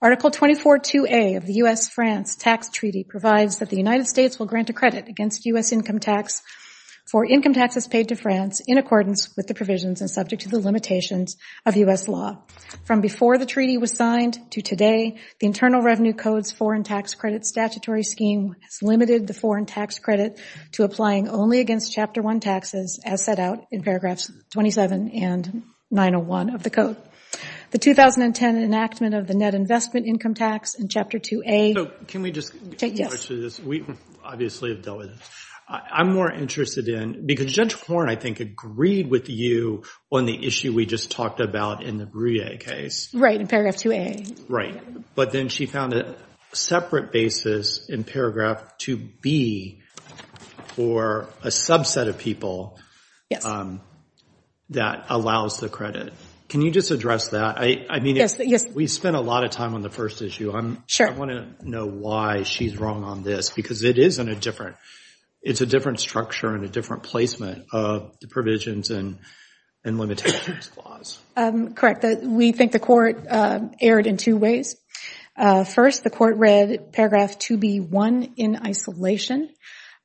Article 24.2a of the U.S.-France Tax Treaty provides that the United States will grant a credit against U.S. income tax for income taxes paid to France in accordance with the provisions and subject to the limitations of U.S. law. From before the treaty was signed to today, the Internal Revenue Code's foreign tax credit statutory scheme has limited the foreign tax credit to applying only against Chapter 1 taxes as set out in paragraphs 27 and 901 of the Code. The 2010 enactment of the net investment income tax in Chapter 2a... So, can we just... Yes. We obviously have dealt with this. I'm more interested in, because Judge Horne, I think, agreed with you on the issue we just talked about in the Brouillet case. Right. In paragraph 2a. Right. But then she found a separate basis in paragraph 2b for a subset of people that allows the credit. Can you just address that? I mean... Yes. Yes. We spent a lot of time on the first issue. I'm... Sure. I want to know why she's wrong on this, because it is in a different... It's a different structure and a different placement of the provisions and limitations clause. Correct. We think the court erred in two ways. First, the court read paragraph 2b.1 in isolation.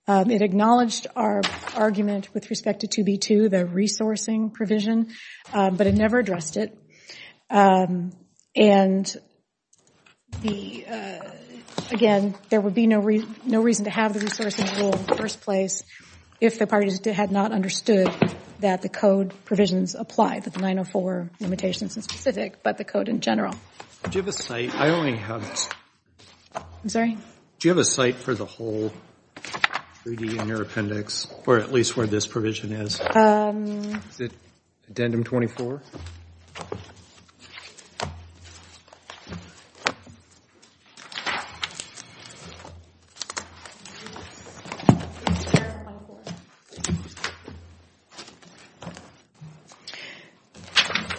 It acknowledged our argument with respect to 2b.2, the resourcing provision, but it never addressed it. And, again, there would be no reason to have the resourcing rule in the first place if the parties had not understood that the code provisions apply, that the 904 limitations in specific, but the code in general. Do you have a site? I only have... I'm sorry? Do you have a site for the whole treaty in your appendix, or at least where this provision is? Is it addendum 24?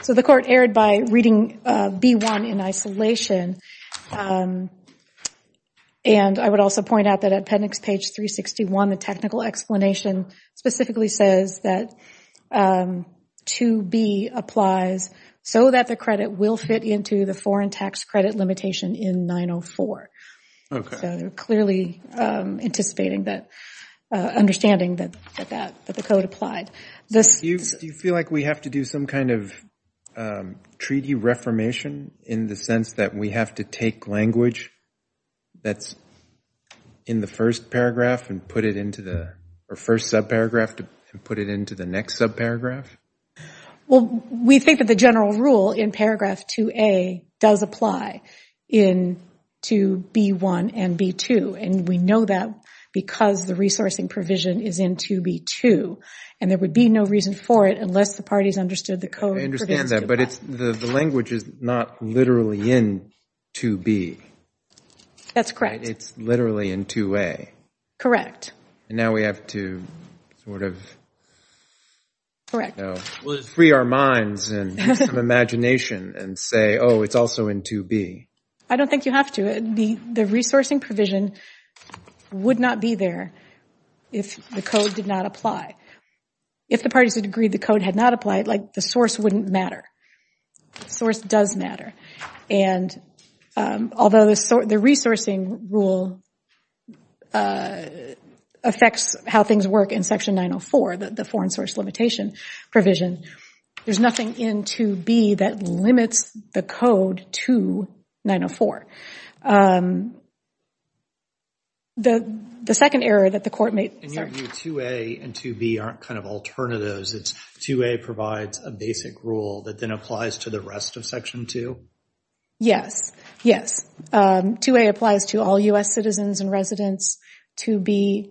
So, the court erred by reading B.1 in isolation, and I would also point out that at appendix page 361, the technical explanation specifically says that 2b applies so that the credit will fit into the foreign tax credit limitation in 904. Okay. So, they're clearly anticipating that, understanding that the code applied. This... Do you feel like we have to do some kind of treaty reformation in the sense that we have to take language that's in the first paragraph and put it into the... Or first subparagraph and put it into the next subparagraph? Well, we think that the general rule in paragraph 2a does apply in 2b.1 and 2b.2, and we know that because the resourcing provision is in 2b.2, and there would be no reason for it unless the parties understood the code provisions apply. But the language is not literally in 2b. That's correct. It's literally in 2a. Correct. And now we have to sort of free our minds and imagination and say, oh, it's also in 2b. I don't think you have to. The resourcing provision would not be there if the code did not apply. If the parties had agreed the code had not applied, the source wouldn't matter. Source does matter. And although the resourcing rule affects how things work in Section 904, the foreign source limitation provision, there's nothing in 2b that limits the code to 904. In your view, 2a and 2b aren't kind of alternatives. It's 2a provides a basic rule that then applies to the rest of Section 2? Yes. Yes. 2a applies to all U.S. citizens and residents. 2b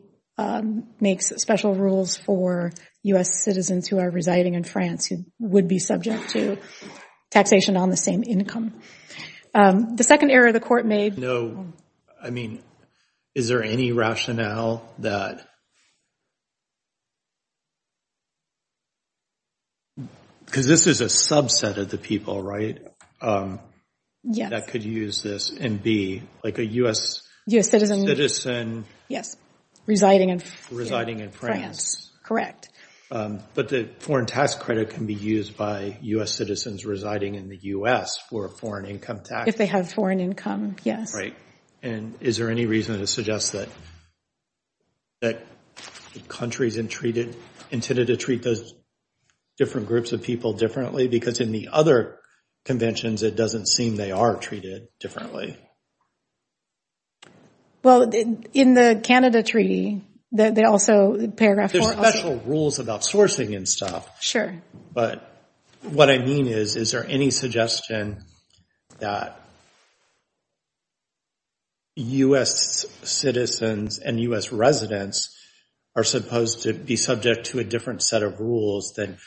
makes special rules for U.S. citizens who are residing in France who would be subject to taxation on the same income. The second error the Court made— I mean, is there any rationale that—because this is a subset of the people, right? Yes. That could use this in b, like a U.S. citizen— U.S. citizen, yes. Residing in France. Residing in France. Correct. But the foreign tax credit can be used by U.S. citizens residing in the U.S. for a foreign income tax. If they have foreign income, yes. Right. And is there any reason to suggest that countries intended to treat those different groups of people differently? Because in the other conventions, it doesn't seem they are treated differently. Well, in the Canada Treaty, they also—paragraph 4 also— There are special rules about sourcing and stuff. But what I mean is, is there any suggestion that U.S. citizens and U.S. residents are supposed to be subject to a different set of rules than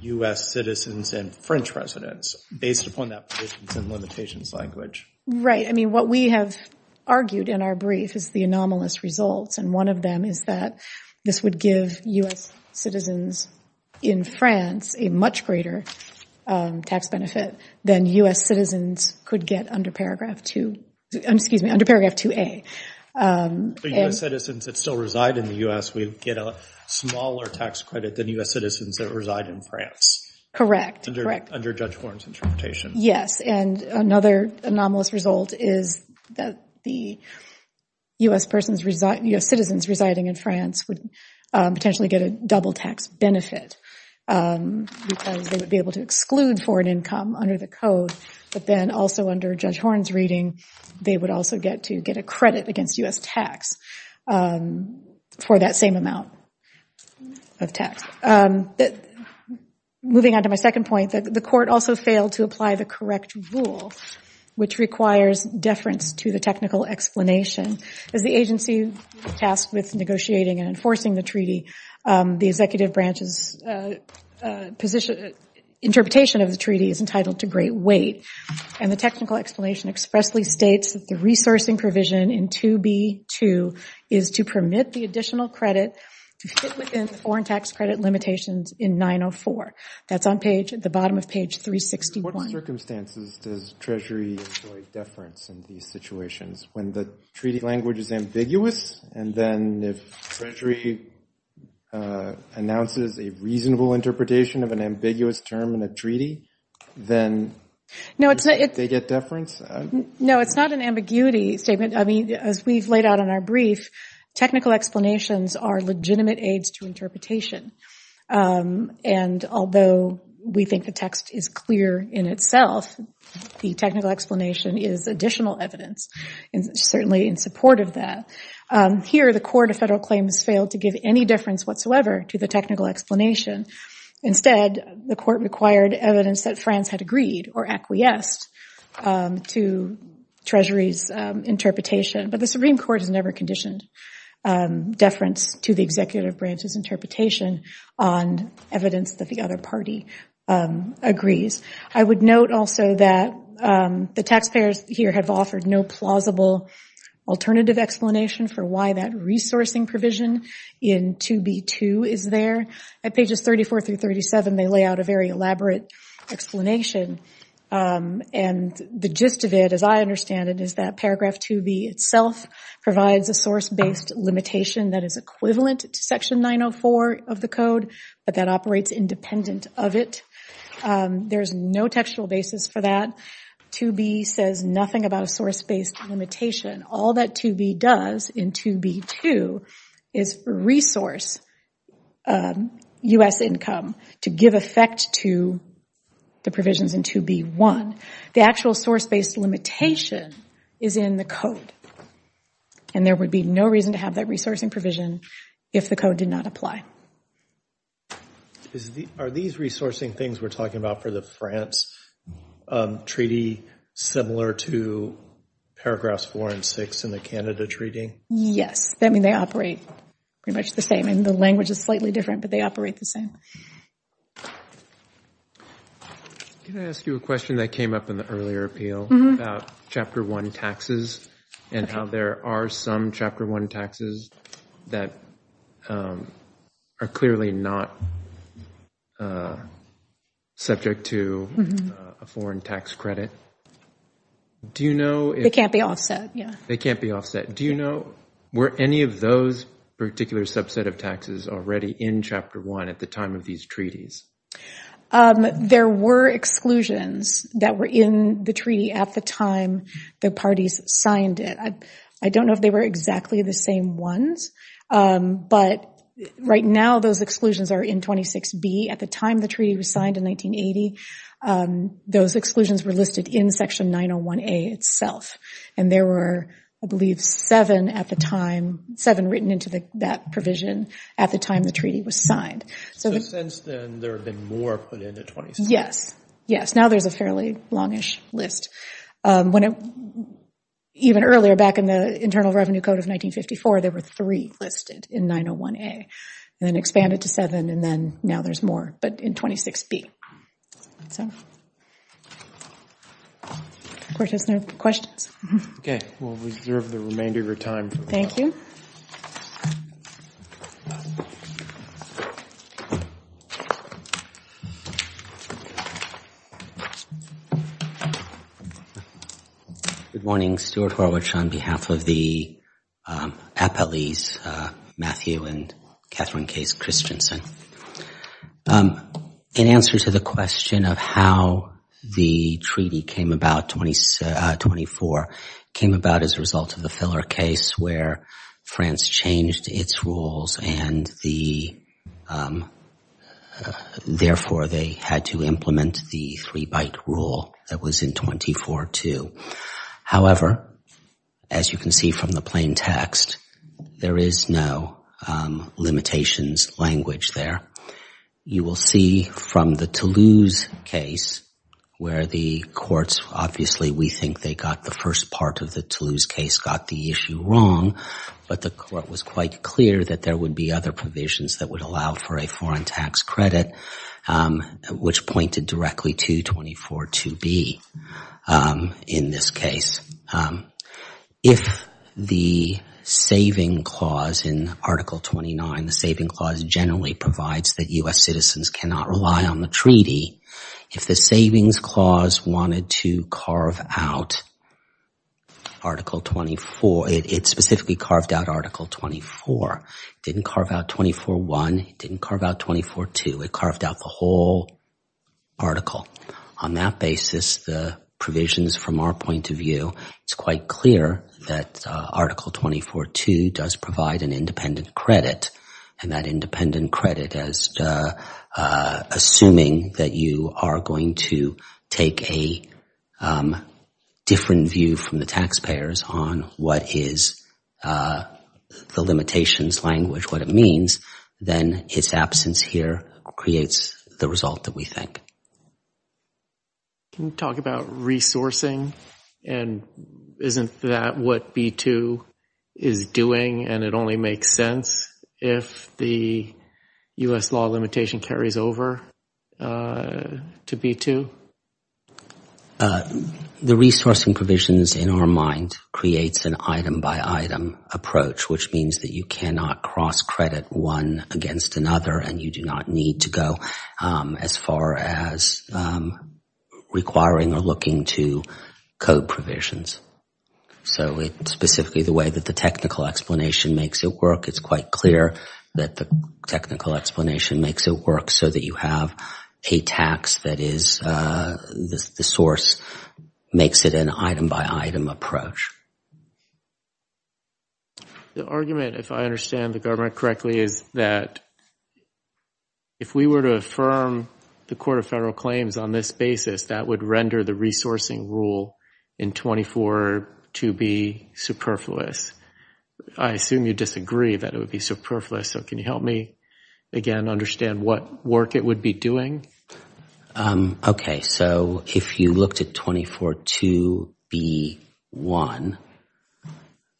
U.S. citizens and French residents, based upon that provisions in limitations language? Right. I mean, what we have argued in our brief is the anomalous results, and one of them is that this would give U.S. citizens in France a much greater tax benefit than U.S. citizens could get under paragraph 2a. So U.S. citizens that still reside in the U.S. would get a smaller tax credit than U.S. citizens that reside in France. Correct. Under Judge Warren's interpretation. Yes. And another anomalous result is that the U.S. citizens residing in France would potentially get a double tax benefit, because they would be able to exclude foreign income under the Code, but then also under Judge Warren's reading, they would also get to get a credit against U.S. tax for that same amount of tax. Moving on to my second point, the Court also failed to apply the correct rule, which requires deference to the technical explanation. As the agency tasked with negotiating and enforcing the treaty, the executive branch's interpretation of the treaty is entitled to great weight, and the technical explanation expressly states that the resourcing provision in 2b.2 is to permit the additional credit within foreign tax credit limitations in 904. That's on the bottom of page 361. Under what circumstances does Treasury enjoy deference in these situations? When the treaty language is ambiguous, and then if Treasury announces a reasonable interpretation of an ambiguous term in a treaty, then do they get deference? No, it's not an ambiguity statement. As we've laid out in our brief, technical explanations are legitimate aids to interpretation. Although we think the text is clear in itself, the technical explanation is additional evidence certainly in support of that. Here, the Court of Federal Claims failed to give any deference whatsoever to the technical explanation. Instead, the Court required evidence that France had agreed or acquiesced to Treasury's interpretation. But the Supreme Court has never conditioned deference to the executive branch's interpretation on evidence that the other party agrees. I would note also that the taxpayers here have offered no plausible alternative explanation for why that resourcing provision in 2b2 is there. At pages 34 through 37, they lay out a very elaborate explanation. The gist of it, as I understand it, is that paragraph 2b itself provides a source-based limitation that is equivalent to section 904 of the Code, but that operates independent of it. There is no textual basis for that. 2b says nothing about a source-based limitation. All that 2b does in 2b2 is resource U.S. income to give effect to the provisions in 2b1. The actual source-based limitation is in the Code, and there would be no reason to have that resourcing provision if the Code did not apply. Are these resourcing things we're talking about for the France treaty similar to paragraphs 4 and 6 in the Canada treaty? Yes. They operate pretty much the same. The language is slightly different, but they operate the same. Can I ask you a question that came up in the earlier appeal about Chapter 1 taxes and how there are some Chapter 1 taxes that are clearly not subject to a foreign tax credit? They can't be offset. They can't be offset. Do you know, were any of those particular subset of taxes already in Chapter 1 at the time of these treaties? There were exclusions that were in the treaty at the time the parties signed it. I don't know if they were exactly the same ones, but right now those exclusions are in 26b. At the time the treaty was signed in 1980, those exclusions were listed in Section 901A itself, and there were, I believe, seven at the time, seven written into that provision at the time the treaty was signed. So since then, there have been more put into 26b? Yes. Now there's a fairly long-ish list. Even earlier, back in the Internal Revenue Code of 1954, there were three listed in 901A, and then expanded to seven, and then now there's more, but in 26b. The Court has no questions. Okay. We'll reserve the remainder of your time. Thank you. Good morning. Stuart Horwich on behalf of the Appellees Matthew and Catherine Case Christensen. In answer to the question of how the treaty came about, 24, came about as a result of the Filler case where France changed its rules and therefore they had to implement the three-bite rule that was in 24, too. However, as you can see from the plain text, there is no limitations language there. You will see from the Toulouse case where the courts, obviously we think they got the first part of the Toulouse case, got the issue wrong, but the Court was quite clear that there would be other provisions that would allow for a foreign tax credit, which pointed directly to 242B in this case. If the saving clause in Article 29, the saving clause generally provides that U.S. citizens cannot rely on the treaty, if the savings clause wanted to carve out Article 24, it specifically carved out Article 24. It didn't carve out 24.1. It didn't carve out 24.2. It carved out the whole article. On that basis, the provisions from our point of view, it's quite clear that Article 24.2 does provide an independent credit and that independent credit, assuming that you are going to take a different view from the taxpayers on what is the limitations language, what creates the result that we think. Can you talk about resourcing and isn't that what B-2 is doing and it only makes sense if the U.S. law limitation carries over to B-2? The resourcing provisions in our mind creates an item by item approach, which means that you cannot cross credit one against another and you do not need to go as far as requiring or looking to code provisions. Specifically, the way that the technical explanation makes it work, it's quite clear that the technical explanation makes it work so that you have a tax that is the source makes it an item by item approach. The argument, if I understand the government correctly, is that if we were to affirm the Court of Federal Claims on this basis, that would render the resourcing rule in 24.2B superfluous. I assume you disagree that it would be superfluous. Can you help me again understand what work it would be doing? If you looked at 24.2B.1,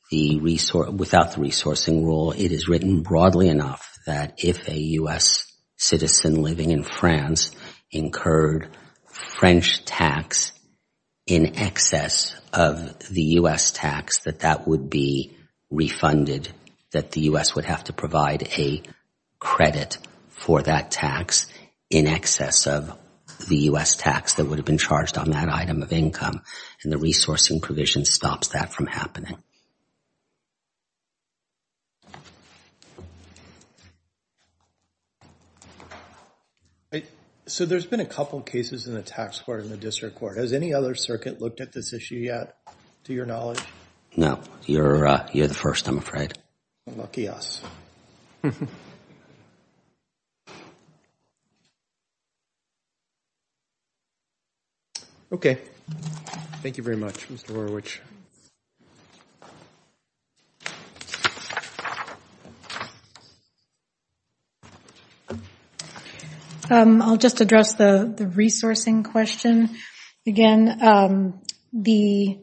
without the resourcing rule, it is written broadly enough that if a U.S. citizen living in France incurred French tax in excess of the U.S. tax, that that would be refunded, that the U.S. would have to provide a credit for that tax in excess of the U.S. tax that would have been charged on that item of income and the resourcing provision stops that from happening. So there's been a couple cases in the tax court and the district court. Has any other circuit looked at this issue yet, to your knowledge? No. You're the first, I'm afraid. Lucky us. Okay. Thank you very much, Mr. Horowitz. I'll just address the resourcing question again. The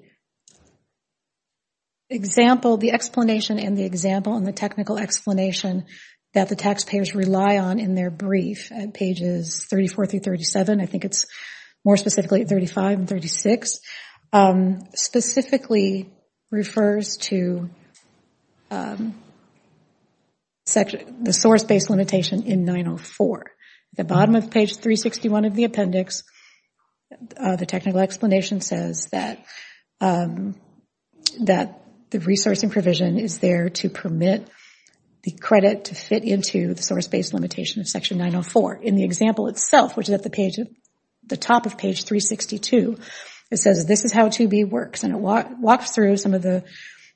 explanation and the example and the technical explanation that the taxpayers rely on in their brief at pages 34 through 37, I think it's more specifically at 35 and 36, specifically refers to the source-based limitation in 904. At the bottom of page 361 of the appendix, the technical explanation says that the resourcing provision is there to permit the credit to fit into the source-based limitation of section 904. In the example itself, which is at the top of page 362, it says this is how 2B works, and it walks through some of the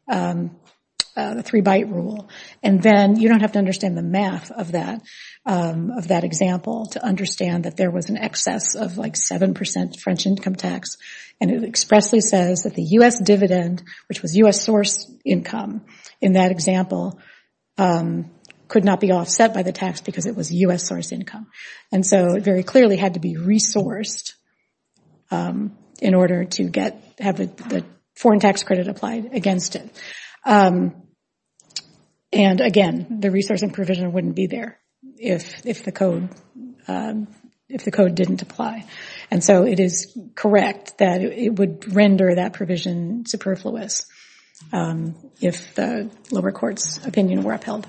three-byte rule. You don't have to understand the math of that example to understand that there was an excess of 7% French income tax. It expressly says that the U.S. dividend, which was U.S. source income in that example, could not be offset by the tax because it was U.S. source income. It very clearly had to be resourced in order to have the foreign tax credit applied against it. And again, the resourcing provision wouldn't be there if the code didn't apply. And so it is correct that it would render that provision superfluous if the lower court's opinion were upheld.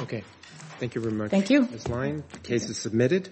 Okay. Thank you very much. Thank you. Case is submitted.